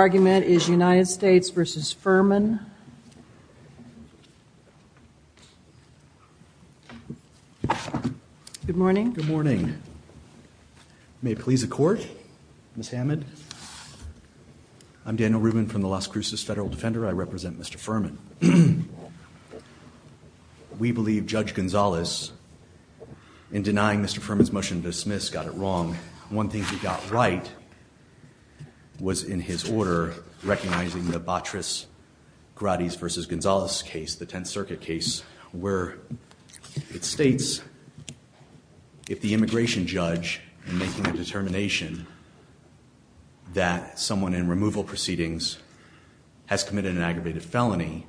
argument is United States v. Ferman. Good morning. Good morning. May it please the court, Ms. Hammond. I'm Daniel Rubin from the Las Cruces Federal Defender. I represent Mr. Ferman. We believe Judge Gonzalez in denying Mr. Ferman's motion to dismiss got it wrong. One thing he got right was in his order, recognizing the Botris Grady's versus Gonzalez case, the 10th circuit case, where it states if the immigration judge making a determination that someone in removal proceedings has committed an aggravated felony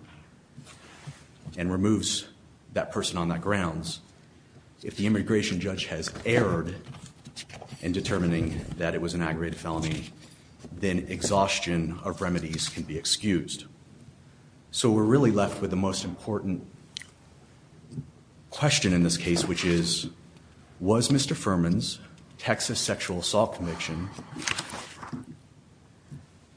and removes that person on that grounds, if the immigration judge has deferred in determining that it was an aggravated felony, then exhaustion of remedies can be excused. So we're really left with the most important question in this case, which is, was Mr. Ferman's Texas sexual assault conviction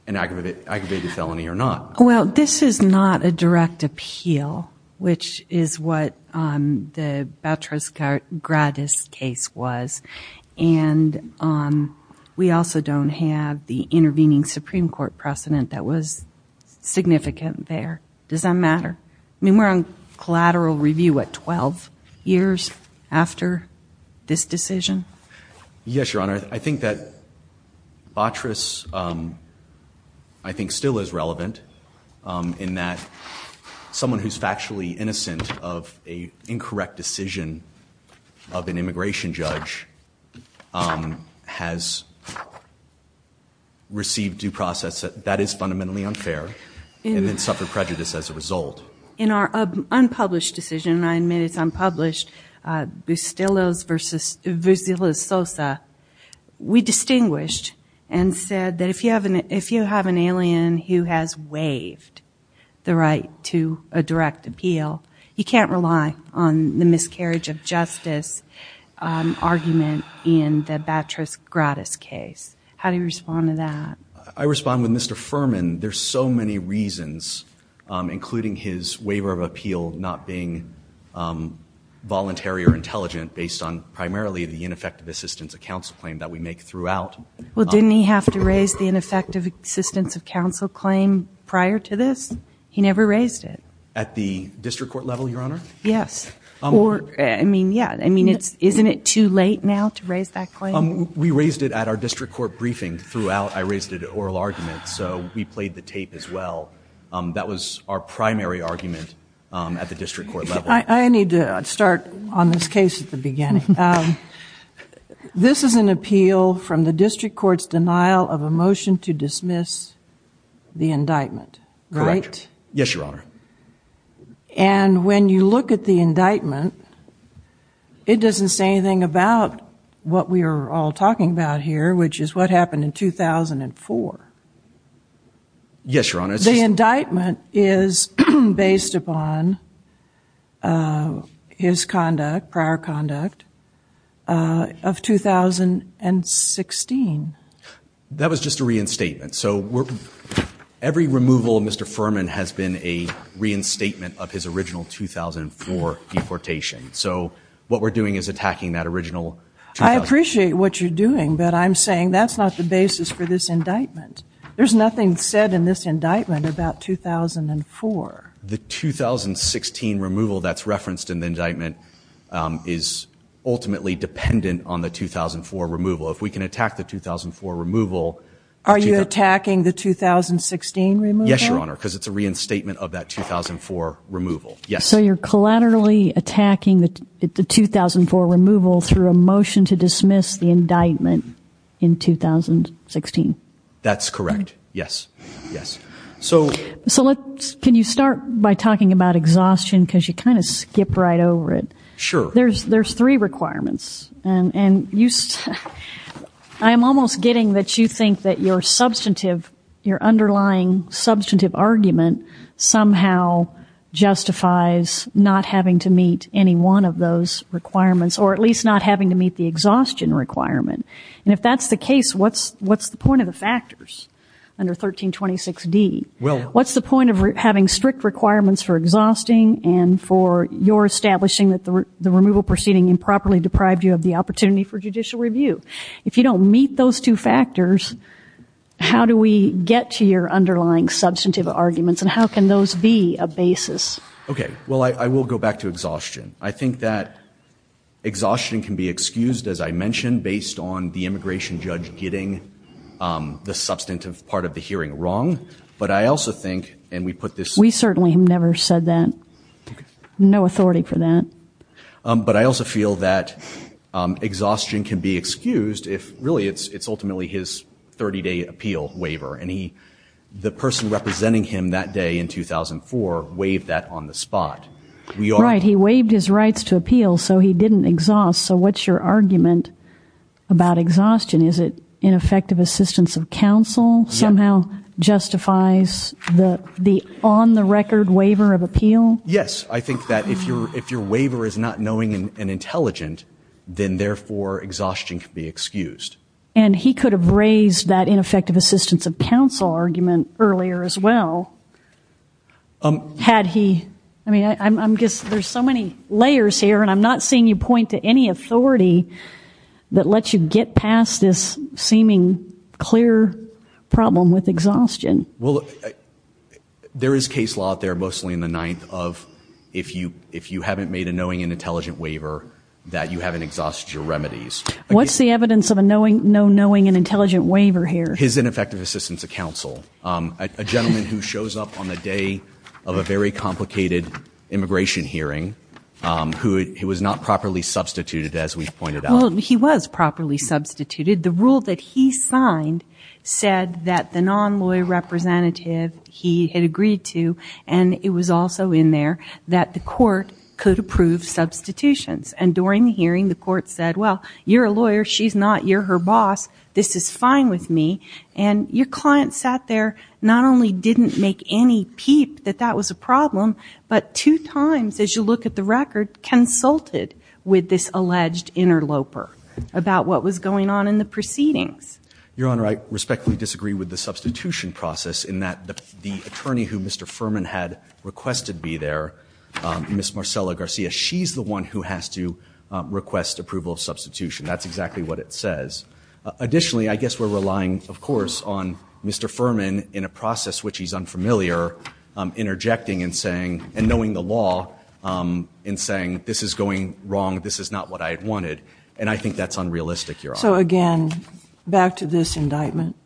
an aggravated felony or not? Well, this is not a direct appeal, which is what, um, Botris Grady's case was. And, um, we also don't have the intervening Supreme court precedent that was significant there. Does that matter? I mean, we're on collateral review at 12 years after this decision. Yes, Your Honor. I think that Botris, um, I think still is relevant, um, in that someone who's factually innocent of a incorrect decision of an immigration judge, um, has received due process that that is fundamentally unfair and then suffered prejudice as a result. In our unpublished decision, and I admit it's unpublished, uh, Bustillos versus Bustillos-Sosa, we distinguished and said that if you have an alien who has waived the right to a direct appeal, you can't rely on the miscarriage of justice, um, argument in the Botris Grady's case. How do you respond to that? I respond with Mr. Ferman. There's so many reasons, um, including his waiver of appeal, not being, um, voluntary or intelligent based on primarily the ineffective assistance accounts claim that we make throughout. Well, didn't he have to raise the ineffective assistance of counsel claim prior to this? He never raised it. At the district court level, Your Honor? Yes. Or, I mean, yeah. I mean, it's, isn't it too late now to raise that claim? Um, we raised it at our district court briefing throughout. I raised it at oral arguments, so we played the tape as well. Um, that was our primary argument, um, at the district court level. I, I need to start on this case at the beginning. Um, this is an appeal from the district court's denial of a motion to dismiss the indictment, right? Yes, Your Honor. And when you look at the indictment, it doesn't say anything about what we are all talking about here, which is what happened in 2004. Yes, Your Honor. The indictment is based upon, uh, his conduct, prior conduct, uh, of 2016. That was just a reinstatement. So every removal of Mr. Furman has been a reinstatement of his original 2004 deportation. So what we're doing is attacking that original. I appreciate what you're doing, but I'm saying that's not the basis for this indictment. There's nothing said in this indictment about 2004. The 2016 removal that's referenced in the indictment, um, is ultimately dependent on the 2004 removal. If we can attack the 2004 removal. Are you attacking the 2016 removal? Yes, Your Honor. Cause it's a reinstatement of that 2004 removal. Yes. So you're collaterally attacking the 2004 removal through a motion to dismiss the indictment in 2016. That's correct. Yes. Yes. So, so let's, can you start by talking about exhaustion? Cause you kind of skip right over it. Sure. There's, there's three requirements and, and you, I am almost getting that you think that your substantive, your underlying substantive argument somehow justifies not having to meet any one of those requirements, or at least not having to meet the exhaustion requirement. And if that's the case, what's, what's the point of the factors under 1326 D? Well, what's the point of having strict requirements for exhausting and for your establishing that the removal proceeding improperly deprived you of the opportunity for judicial review? If you don't meet those two factors, how do we get to your underlying substantive arguments and how can those be a basis? Okay. Well, I will go back to exhaustion. I think that exhaustion can be excused, as I mentioned, based on the immigration judge getting the substantive part of the hearing wrong, but I also think, and we put this, we certainly have never said that no authority for that. But I also feel that exhaustion can be excused if really it's, it's ultimately his 30 day appeal waiver. And he, the person representing him that day in 2004, waived that on the spot. We are right. He waived his rights to appeal. So he didn't exhaust. So what's your argument about exhaustion? Is it ineffective assistance of counsel somehow justifies the, the on the record waiver of appeal? Yes. I think that if you're, if your waiver is not knowing and intelligent, then therefore exhaustion can be excused. And he could have raised that ineffective assistance of counsel argument earlier as well. Um, had he, I mean, I'm, I'm just, there's so many layers here and I'm not seeing you point to any authority that lets you get past this seeming clear problem with exhaustion. Well, there is case law out there, mostly in the ninth of, if you, if you haven't made a knowing and intelligent waiver that you haven't exhausted your remedies, what's the evidence of a knowing, no knowing and intelligent waiver here, his ineffective assistance of counsel. Um, a gentleman who shows up on the day of a very complicated immigration hearing, um, who it was not properly substituted, as we've pointed out. He was properly substituted. The rule that he signed said that the non-lawyer representative he had agreed to, and it was also in there that the court could approve substitutions. And during the hearing, the court said, well, you're a lawyer. She's not, you're her boss. This is fine with me. And your client sat there, not only didn't make any peep that that was a problem, but two times, as you look at the record, consulted with this alleged interloper about what was going on in the proceedings. Your Honor, I respectfully disagree with the substitution process in that the attorney who Mr. Furman had requested be there, um, Ms. Marcella Garcia, she's the one who has to request approval of substitution. That's exactly what it says. Additionally, I guess we're relying of course, on Mr. Furman in a process, which he's unfamiliar, um, interjecting and saying, and knowing the law, um, and saying this is going wrong. This is not what I had wanted. And I think that's unrealistic, Your Honor. So again, back to this indictment,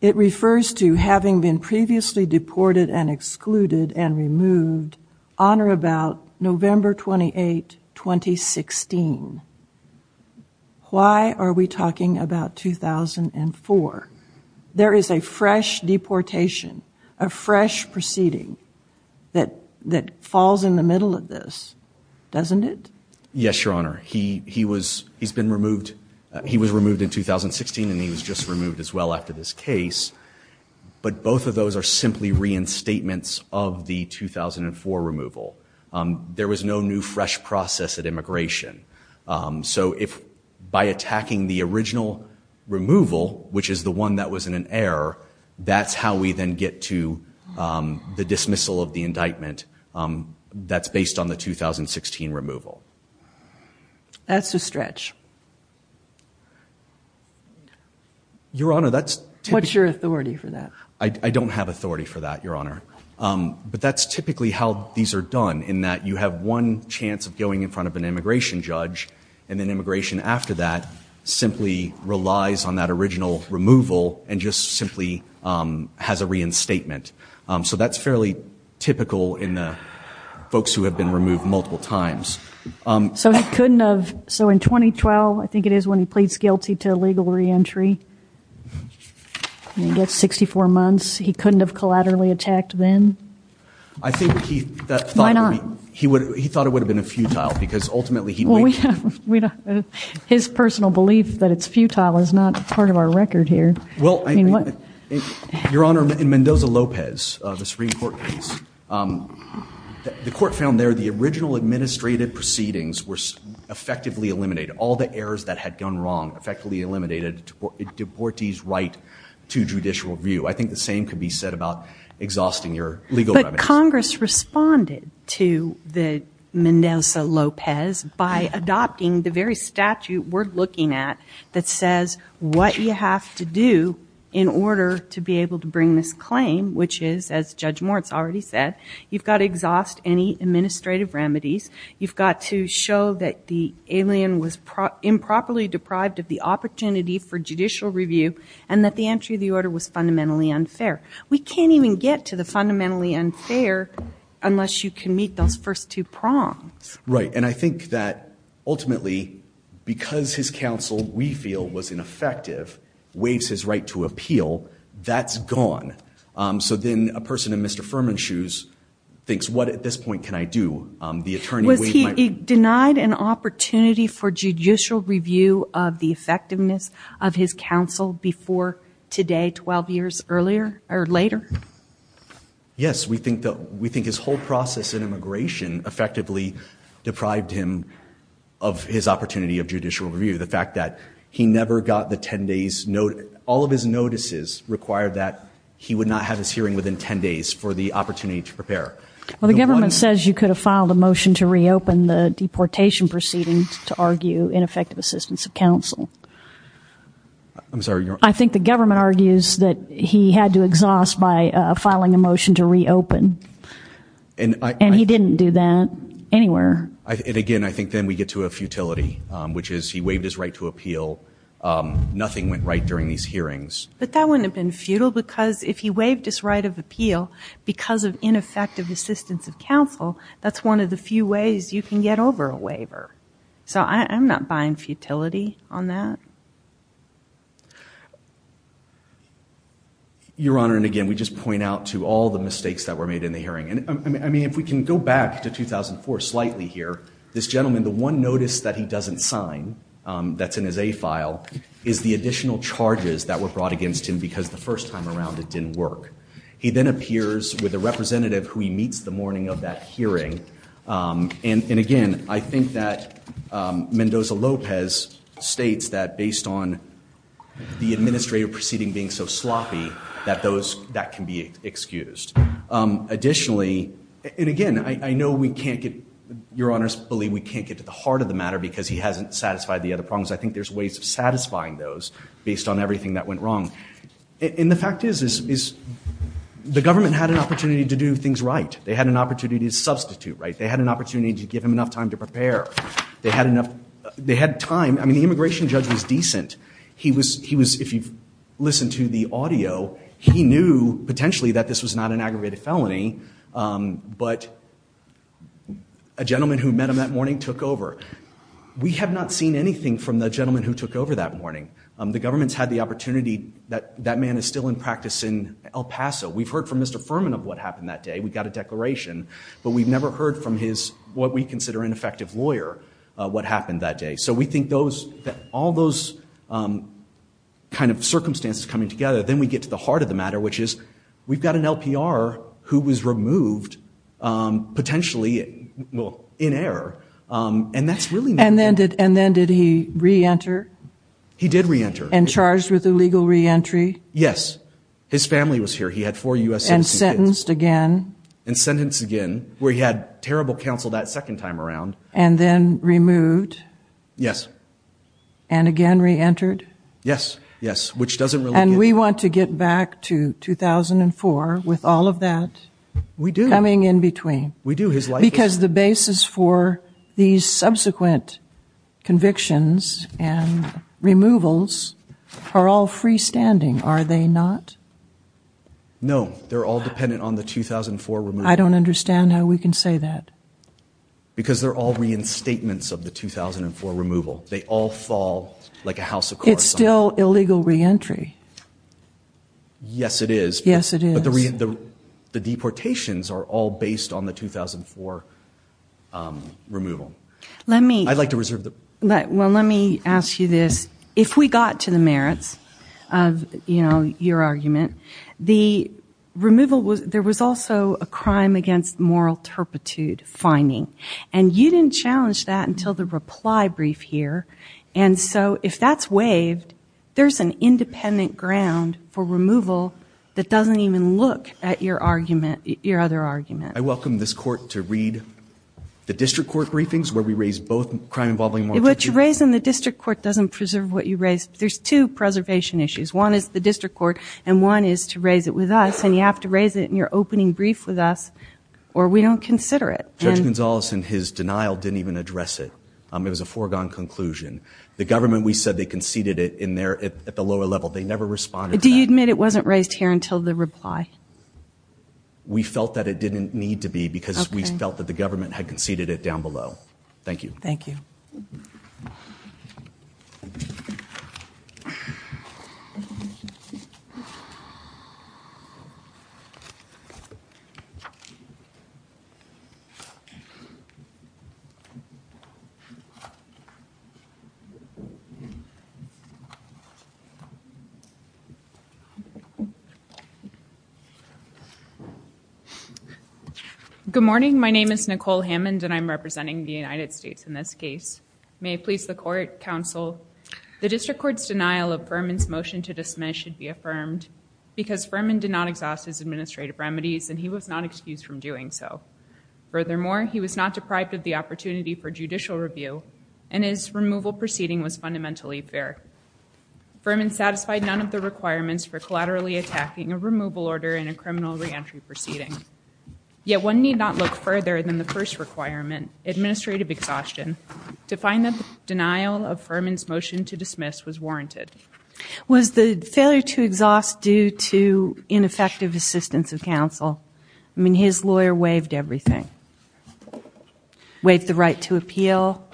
it refers to having been previously deported and excluded and removed on or about November 28, 2016. Why are we talking about 2004? There is a fresh deportation, a fresh proceeding that, that falls in the middle of this, doesn't it? Yes, Your Honor. He, he was, he's been removed. He was removed in 2016 and he was just removed as well after this case. But both of those are simply reinstatements of the 2004 removal. Um, there was no new fresh process at immigration. Um, so if by attacking the original removal, which is the one that was in an error, that's how we then get to, um, the dismissal of the indictment. Um, that's based on the 2016 removal. That's a stretch. Your Honor, that's typically... What's your authority for that? I don't have authority for that, Your Honor. Um, but that's typically how these are done in that you have one chance of an immigration judge and then immigration after that simply relies on that original removal and just simply, um, has a reinstatement. Um, so that's fairly typical in the folks who have been removed multiple times. Um... So he couldn't have, so in 2012, I think it is when he pleads guilty to illegal re-entry and he gets 64 months, he couldn't have collaterally attacked then? I think he thought... Why not? He would, he thought it would have been a futile because ultimately he... His personal belief that it's futile is not part of our record here. Well, Your Honor, in Mendoza-Lopez, uh, the Supreme Court case, um, the court found there the original administrative proceedings were effectively eliminated. All the errors that had gone wrong effectively eliminated DuPorte's right to judicial review. I think the same could be said about exhausting your legal remedies. Congress responded to the Mendoza-Lopez by adopting the very statute we're looking at that says what you have to do in order to be able to bring this claim, which is, as Judge Moritz already said, you've got to exhaust any administrative remedies. You've got to show that the alien was improperly deprived of the opportunity for judicial review and that the entry of the order was fundamentally unfair. We can't even get to the fundamentally unfair unless you can meet those first two prongs. Right. And I think that ultimately, because his counsel, we feel, was ineffective, waives his right to appeal, that's gone. Um, so then a person in Mr. Furman's shoes thinks, what at this point can I do? Um, the attorney... Was he denied an opportunity for judicial review of the effectiveness of his counsel before today, 12 years earlier or later? Yes. We think that we think his whole process in immigration effectively deprived him of his opportunity of judicial review. The fact that he never got the 10 days, all of his notices required that he would not have his hearing within 10 days for the opportunity to prepare. Well, the government says you could have filed a motion to reopen the deportation proceedings to argue ineffective assistance of counsel. I'm sorry. I think the government argues that he had to exhaust by, uh, filing a motion to reopen and he didn't do that anywhere. I, and again, I think then we get to a futility, um, which is he waived his right to appeal. Um, nothing went right during these hearings. But that wouldn't have been futile because if he waived his right of appeal because of ineffective assistance of counsel, that's one of the few ways you can get over a waiver. So I'm not buying futility on that. Your honor. And again, we just point out to all the mistakes that were made in the hearing. And I mean, if we can go back to 2004 slightly here, this gentleman, the one notice that he doesn't sign, um, that's in his a file is the additional charges that were brought against him because the first time around it didn't work. He then appears with a representative who he meets the morning of that hearing. Um, and, and again, I think that, um, Mendoza Lopez states that based on the administrative proceeding being so sloppy that those that can be excused. Um, additionally, and again, I, I know we can't get, your honors believe we can't get to the heart of the matter because he hasn't satisfied the other problems. I think there's ways of satisfying those based on everything that went wrong. And the fact is, is, is the government had an opportunity to do things, right? They had an opportunity to substitute, right? They had an opportunity to give him enough time to prepare. They had enough, they had time. I mean, the immigration judge was decent. He was, he was, if you've listened to the audio, he knew potentially that this was not an aggravated felony. Um, but a gentleman who met him that morning took over. We have not seen anything from the gentleman who took over that morning. Um, the government's had the opportunity that that man is still in practice in El Paso. We've heard from Mr. Furman of what happened that day. We got a declaration, but we've never heard from his, what we consider ineffective lawyer, uh, what happened that day. So we think those, that all those, um, kind of circumstances coming together, then we get to the heart of the matter, which is we've got an LPR who was removed, um, potentially, well, in error. Um, and that's really. And then did, and then did he reenter? He did reenter. And charged with illegal reentry? Yes. His family was here. He had four U.S. citizens. And sentenced again. And sentenced again, where he had terrible counsel that second time around. And then removed. Yes. And again, re-entered? Yes. Yes. Which doesn't really. And we want to get back to 2004 with all of that. We do. Coming in between. We do. His life. Because the basis for these subsequent convictions and removals are all freestanding, are they not? No, they're all dependent on the 2004 removal. I don't understand how we can say that. Because they're all reinstatements of the 2004 removal. They all fall like a house of cards. It's still illegal reentry. Yes, it is. Yes, it is. But the re, the, the deportations are all based on the 2004, um, removal. Let me. I'd like to reserve the. Let, well, let me ask you this. If we got to the merits of, you know, your argument, the removal was, there was also a crime against moral turpitude finding, and you didn't challenge that until the reply brief here. And so if that's waived, there's an independent ground for removal that doesn't even look at your argument, your other argument. I welcome this court to read the district court briefings where we raised both crime involving moral turpitude. What you raise in the district court doesn't preserve what you raise. There's two preservation issues. One is the district court and one is to raise it with us. And you have to raise it in your opening brief with us or we don't consider it. Judge Gonzales and his denial didn't even address it. Um, it was a foregone conclusion. The government, we said they conceded it in there at the lower level. They never responded. Do you admit it wasn't raised here until the reply? We felt that it didn't need to be because we felt that the government had conceded it down below. Thank you. Thank you. Good morning. My name is Nicole Hammond and I'm representing the United States in this case. May it please the court, counsel, the district court's denial of Furman's his administrative remedies and he was not excused from doing so. Furthermore, he was not deprived of the opportunity for judicial review and his removal proceeding was fundamentally fair. Furman satisfied none of the requirements for collaterally attacking a removal order in a criminal re-entry proceeding. Yet one need not look further than the first requirement, administrative exhaustion, to find that the denial of Furman's motion to dismiss was warranted. Was the failure to exhaust due to ineffective assistance of counsel? I mean, his lawyer waived everything. Waived the right to appeal.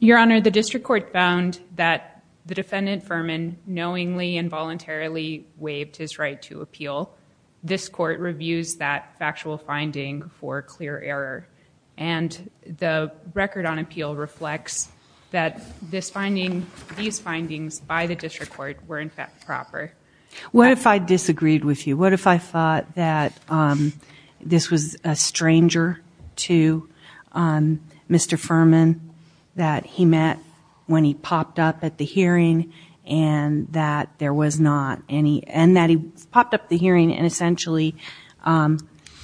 Your Honor, the district court found that the defendant Furman knowingly involuntarily waived his right to appeal. This court reviews that factual finding for clear error and the record on appeal reflects that this finding, these findings by the district court were in fact proper. What if I disagreed with you? What if I thought that this was a stranger to Mr. Furman that he met when he popped up at the hearing and that there was not any, and that he popped up at the hearing and essentially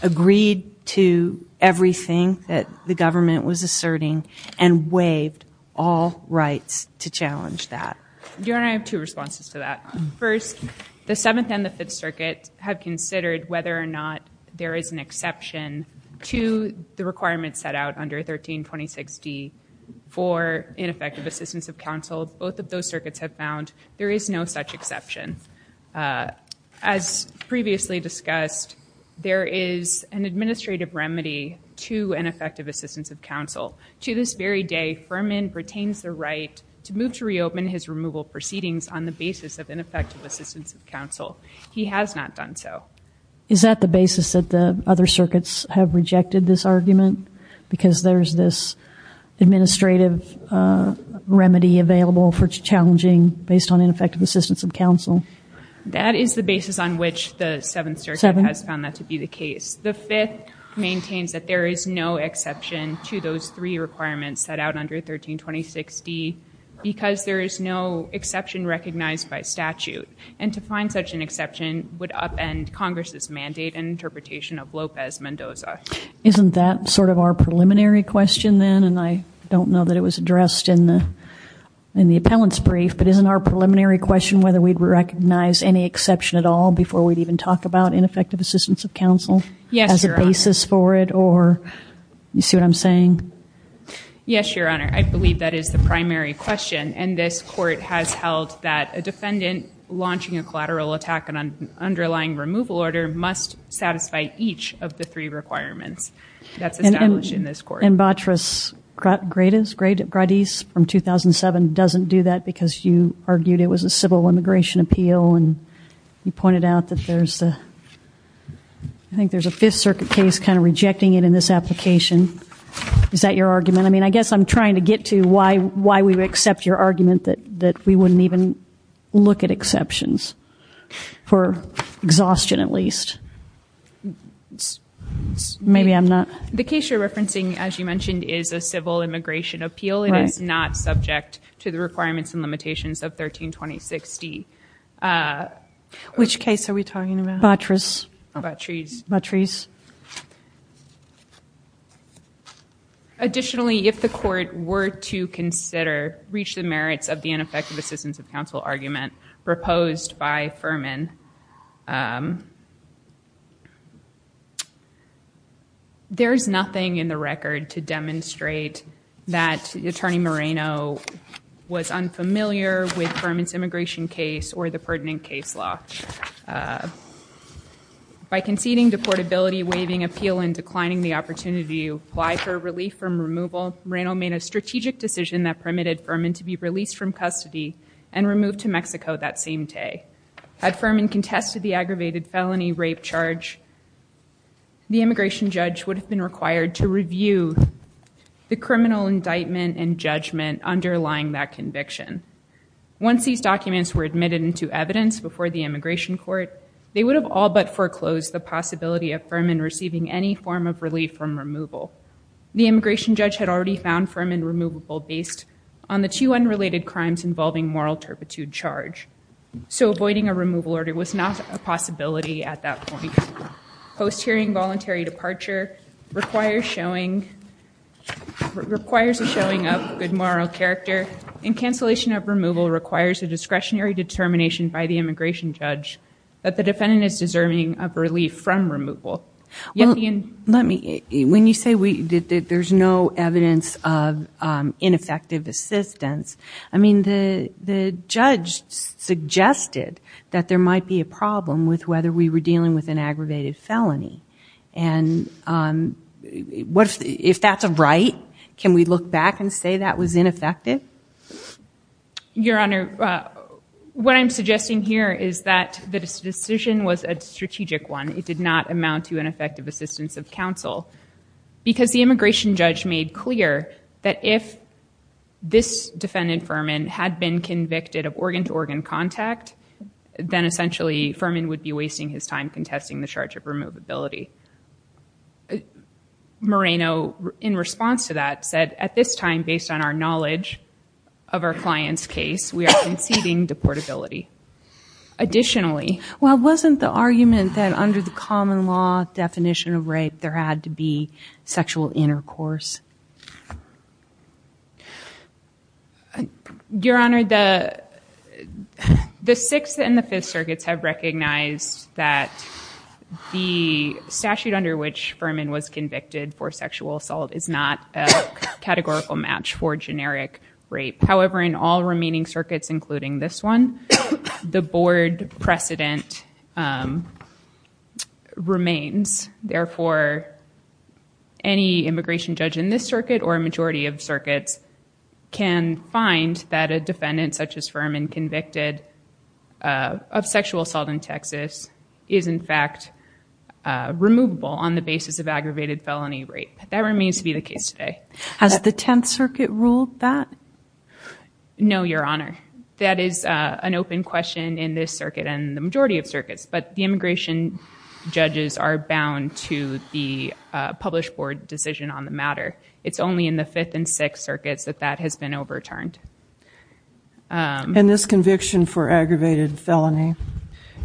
agreed to everything that the district court waived all rights to challenge that? Your Honor, I have two responses to that. First, the Seventh and the Fifth Circuit have considered whether or not there is an exception to the requirements set out under 1326D for ineffective assistance of counsel. Both of those circuits have found there is no such exception. As previously discussed, there is an administrative remedy to ineffective assistance of counsel. To this very day, Furman pertains the right to move to reopen his removal proceedings on the basis of ineffective assistance of counsel. He has not done so. Is that the basis that the other circuits have rejected this argument? Because there's this administrative remedy available for challenging based on ineffective assistance of counsel? That is the basis on which the Seventh Circuit has found that to be the case. The Fifth maintains that there is no exception to those three requirements set out under 1326D because there is no exception recognized by statute. And to find such an exception would upend Congress's mandate and interpretation of Lopez-Mendoza. Isn't that sort of our preliminary question then? And I don't know that it was addressed in the appellant's brief, but isn't our preliminary question whether we'd recognize any exception at all before we'd even talk about ineffective assistance of counsel? Yes, Your Honor. As a basis for it, or you see what I'm saying? Yes, Your Honor. I believe that is the primary question. And this court has held that a defendant launching a collateral attack on an underlying removal order must satisfy each of the three requirements that's established in this court. And Batras-Gradiz from 2007 doesn't do that because you argued it was a civil immigration appeal and you pointed out that there's a, I think there's a Fifth Circuit case kind of rejecting it in this application. Is that your argument? I mean, I guess I'm trying to get to why we would accept your argument that we wouldn't even look at exceptions for exhaustion at least. Maybe I'm not. The case you're referencing, as you mentioned, is a civil immigration appeal. It is not subject to the requirements and limitations of 13-2060. Which case are we talking about? Batras. Batres. Batres. Additionally, if the court were to consider, reach the merits of the ineffective assistance of counsel argument proposed by Furman, there's nothing in the record to demonstrate that Attorney Moreno was unfamiliar with Furman's immigration case or the pertinent case law. By conceding deportability, waiving appeal, and declining the opportunity to apply for relief from removal, Moreno made a strategic decision that permitted Furman to be released from custody and removed to Mexico that same day. Had Furman contested the aggravated felony rape charge, the immigration judge would have been required to review the criminal indictment and judgment underlying that conviction. Once these documents were admitted into evidence before the immigration court, they would have all but foreclosed the possibility of Furman receiving any form of relief from removal. The immigration judge had already found Furman removable based on the two unrelated crimes involving moral turpitude charge. So avoiding a removal order was not a possibility at that point. Post-hearing voluntary departure requires a showing of good moral character and cancellation of removal requires a discretionary determination by the immigration judge that the defendant is deserving of relief from removal. Let me, when you say that there's no evidence of ineffective assistance, I mean, the judge suggested that there might be a problem with whether we were committing an aggravated felony and if that's a right, can we look back and say that was ineffective? Your Honor, what I'm suggesting here is that the decision was a strategic one. It did not amount to an effective assistance of counsel because the immigration judge made clear that if this defendant Furman had been convicted of organ to organ contact, then essentially Furman would be wasting his time contesting the charge of removability. Moreno, in response to that, said at this time, based on our knowledge of our client's case, we are conceding deportability. Additionally, well, wasn't the argument that under the common law definition of rape, there had to be sexual intercourse? Your Honor, the sixth and the fifth circuits have recognized that the statute under which Furman was convicted for sexual assault is not a categorical match for generic rape. However, in all remaining circuits, including this one, the board precedent remains. Therefore, any immigration judge in this circuit or a majority of circuits can find that a defendant such as Furman convicted of sexual assault in Texas is in fact removable on the basis of aggravated felony rape. That remains to be the case today. Has the 10th Circuit ruled that? No, Your Honor. That is an open question in this circuit and the majority of circuits, but the majority of circuits are not bound to the published board decision on the matter. It's only in the fifth and sixth circuits that that has been overturned. And this conviction for aggravated felony,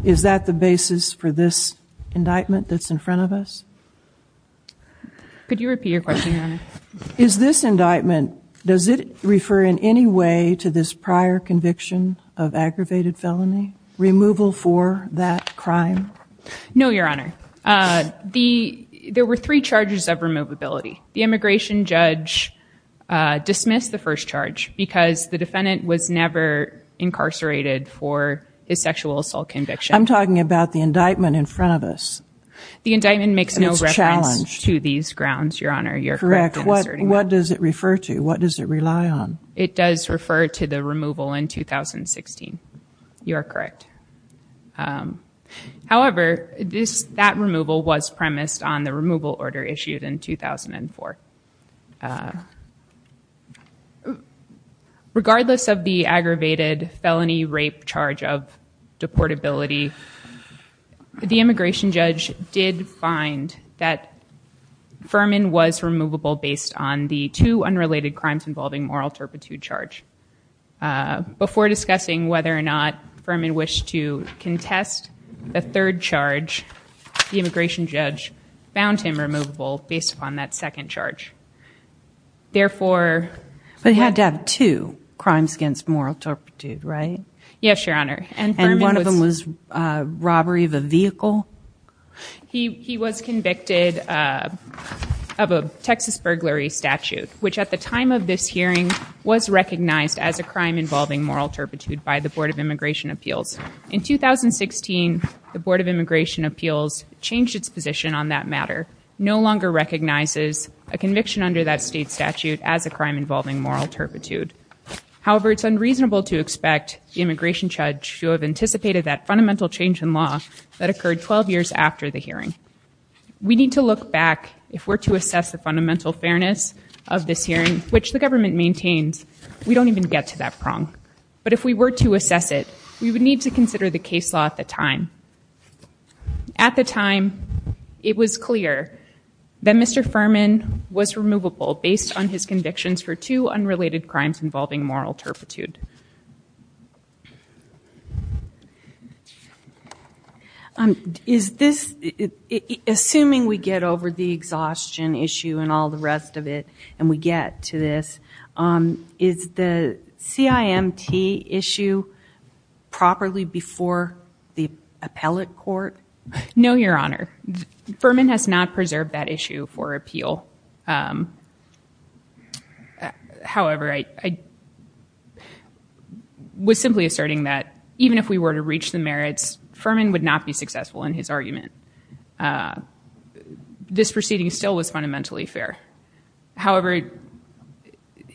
is that the basis for this indictment that's in front of us? Could you repeat your question, Your Honor? Is this indictment, does it refer in any way to this prior conviction of aggravated felony removal for that crime? No, Your Honor. The, there were three charges of removability. The immigration judge dismissed the first charge because the defendant was never incarcerated for his sexual assault conviction. I'm talking about the indictment in front of us. The indictment makes no reference to these grounds, Your Honor. You're correct. What does it refer to? What does it rely on? It does refer to the removal in 2016. You are correct. However, this, that removal was premised on the removal order issued in 2004. Regardless of the aggravated felony rape charge of deportability, the immigration judge did find that Furman was removable based on the two unrelated crimes involving moral turpitude charge. Uh, before discussing whether or not Furman wished to contest the third charge, the immigration judge found him removable based upon that second charge. Therefore, But he had to have two crimes against moral turpitude, right? Yes, Your Honor. And one of them was a robbery of a vehicle. He, he was convicted of a Texas burglary statute, which at the time of this hearing was recognized as a crime involving moral turpitude by the Board of Immigration Appeals. In 2016, the Board of Immigration Appeals changed its position on that matter. No longer recognizes a conviction under that state statute as a crime involving moral turpitude. However, it's unreasonable to expect the immigration judge to have anticipated that fundamental change in law that occurred 12 years after the hearing. We need to look back if we're to assess the fundamental fairness of this hearing, which the government maintains, we don't even get to that prong. But if we were to assess it, we would need to consider the case law at the time. At the time, it was clear that Mr. Furman was removable based on his convictions for two unrelated crimes involving moral turpitude. Um, is this, assuming we get over the exhaustion issue and all the rest of it, and we get to this, um, is the CIMT issue properly before the appellate court? No, Your Honor, Furman has not preserved that issue for appeal. Um, however, I was simply asserting that even if we were to reach the merits, Furman would not be successful in his argument. Uh, this proceeding still was fundamentally fair. However,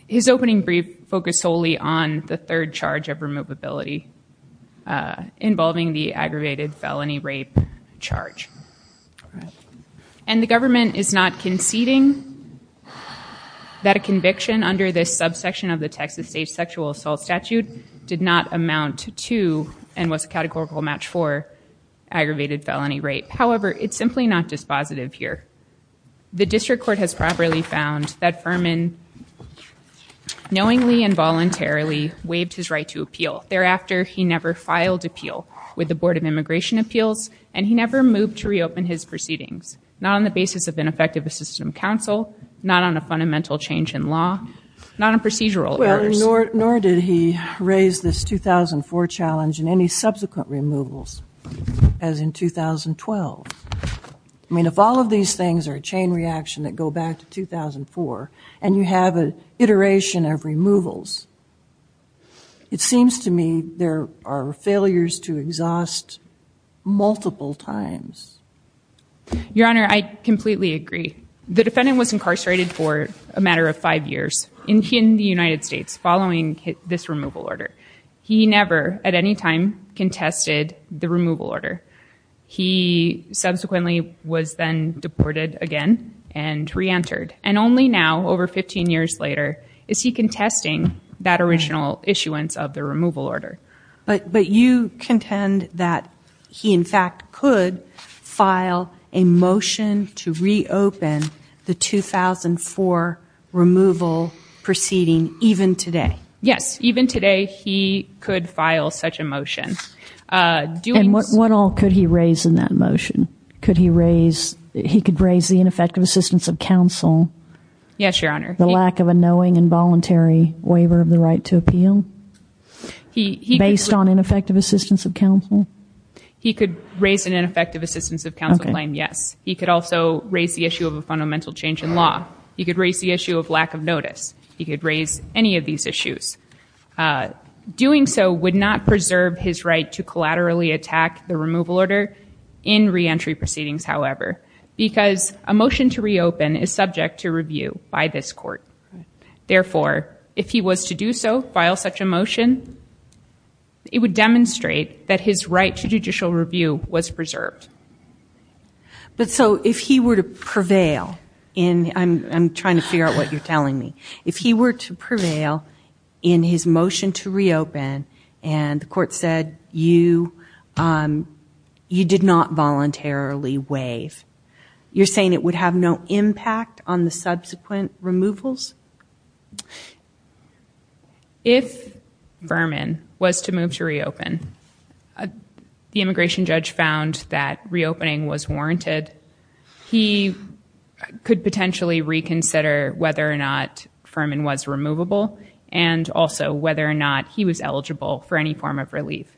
his opening brief focused solely on the third charge of removability, uh, involving the aggravated felony rape charge. And the government is not conceding that a conviction under this subsection of the Texas state sexual assault statute did not amount to, and was a categorical match for, aggravated felony rape. However, it's simply not dispositive here. The district court has properly found that Furman knowingly and voluntarily waived his right to appeal. Thereafter, he never filed appeal with the Board of Immigration Appeals, and he never moved to reopen his proceedings. Not on the basis of an effective assistant counsel, not on a fundamental change in law, not on procedural errors. Nor did he raise this 2004 challenge and any subsequent removals as in 2012. I mean, if all of these things are a chain reaction that go back to 2004 and you have an iteration of removals, it seems to me there are failures to exhaust multiple times. Your Honor, I completely agree. The defendant was incarcerated for a matter of five years in the United States following this removal order. He never at any time contested the removal order. He subsequently was then deported again and reentered. And only now, over 15 years later, is he contesting that original issuance of the removal order. But you contend that he in fact could file a motion to reopen the 2004 removal proceeding even today? Even today, he could file such a motion. And what all could he raise in that motion? Could he raise, he could raise the ineffective assistance of counsel? Yes, Your Honor. The lack of a knowing and voluntary waiver of the right to appeal based on ineffective assistance of counsel? He could raise an ineffective assistance of counsel claim, yes. He could also raise the issue of a fundamental change in law. He could raise the issue of lack of notice. He could raise any of these issues. Doing so would not preserve his right to collaterally attack the removal order in reentry proceedings, however, because a motion to reopen is subject to review by this court. Therefore, if he was to do so, file such a motion, it would demonstrate that his right to judicial review was preserved. But so if he were to prevail in, I'm trying to figure out what you're telling me, if he were to prevail in his motion to reopen and the court said you, you did not voluntarily waive, you're saying it would have no impact on the subsequent removals? If Vermin was to move to reopen, the immigration judge found that reopening was warranted, he could potentially reconsider whether or not Vermin was removable and also whether or not he was eligible for any form of relief.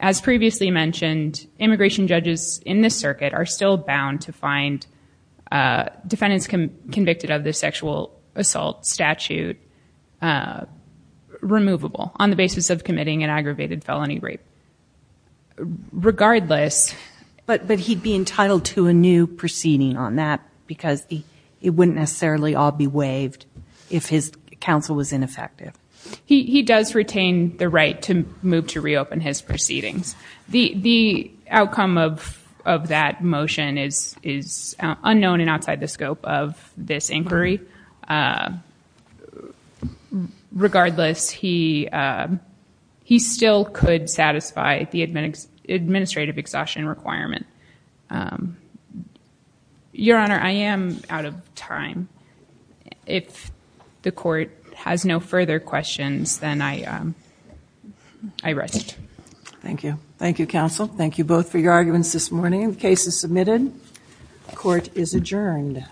As previously mentioned, immigration judges in this circuit are still bound to find defendants convicted of the sexual assault statute removable on the basis of committing an aggravated felony rape. Regardless, but, but he'd be entitled to a new proceeding on that because it wouldn't necessarily all be waived if his counsel was ineffective. He does retain the right to move to reopen his proceedings. The, the outcome of, of that motion is, is unknown and outside the scope of this administrative exhaustion requirement. Um, your honor, I am out of time. If the court has no further questions, then I, um, I rest. Thank you. Thank you, counsel. Thank you both for your arguments this morning. The case is submitted. Court is adjourned.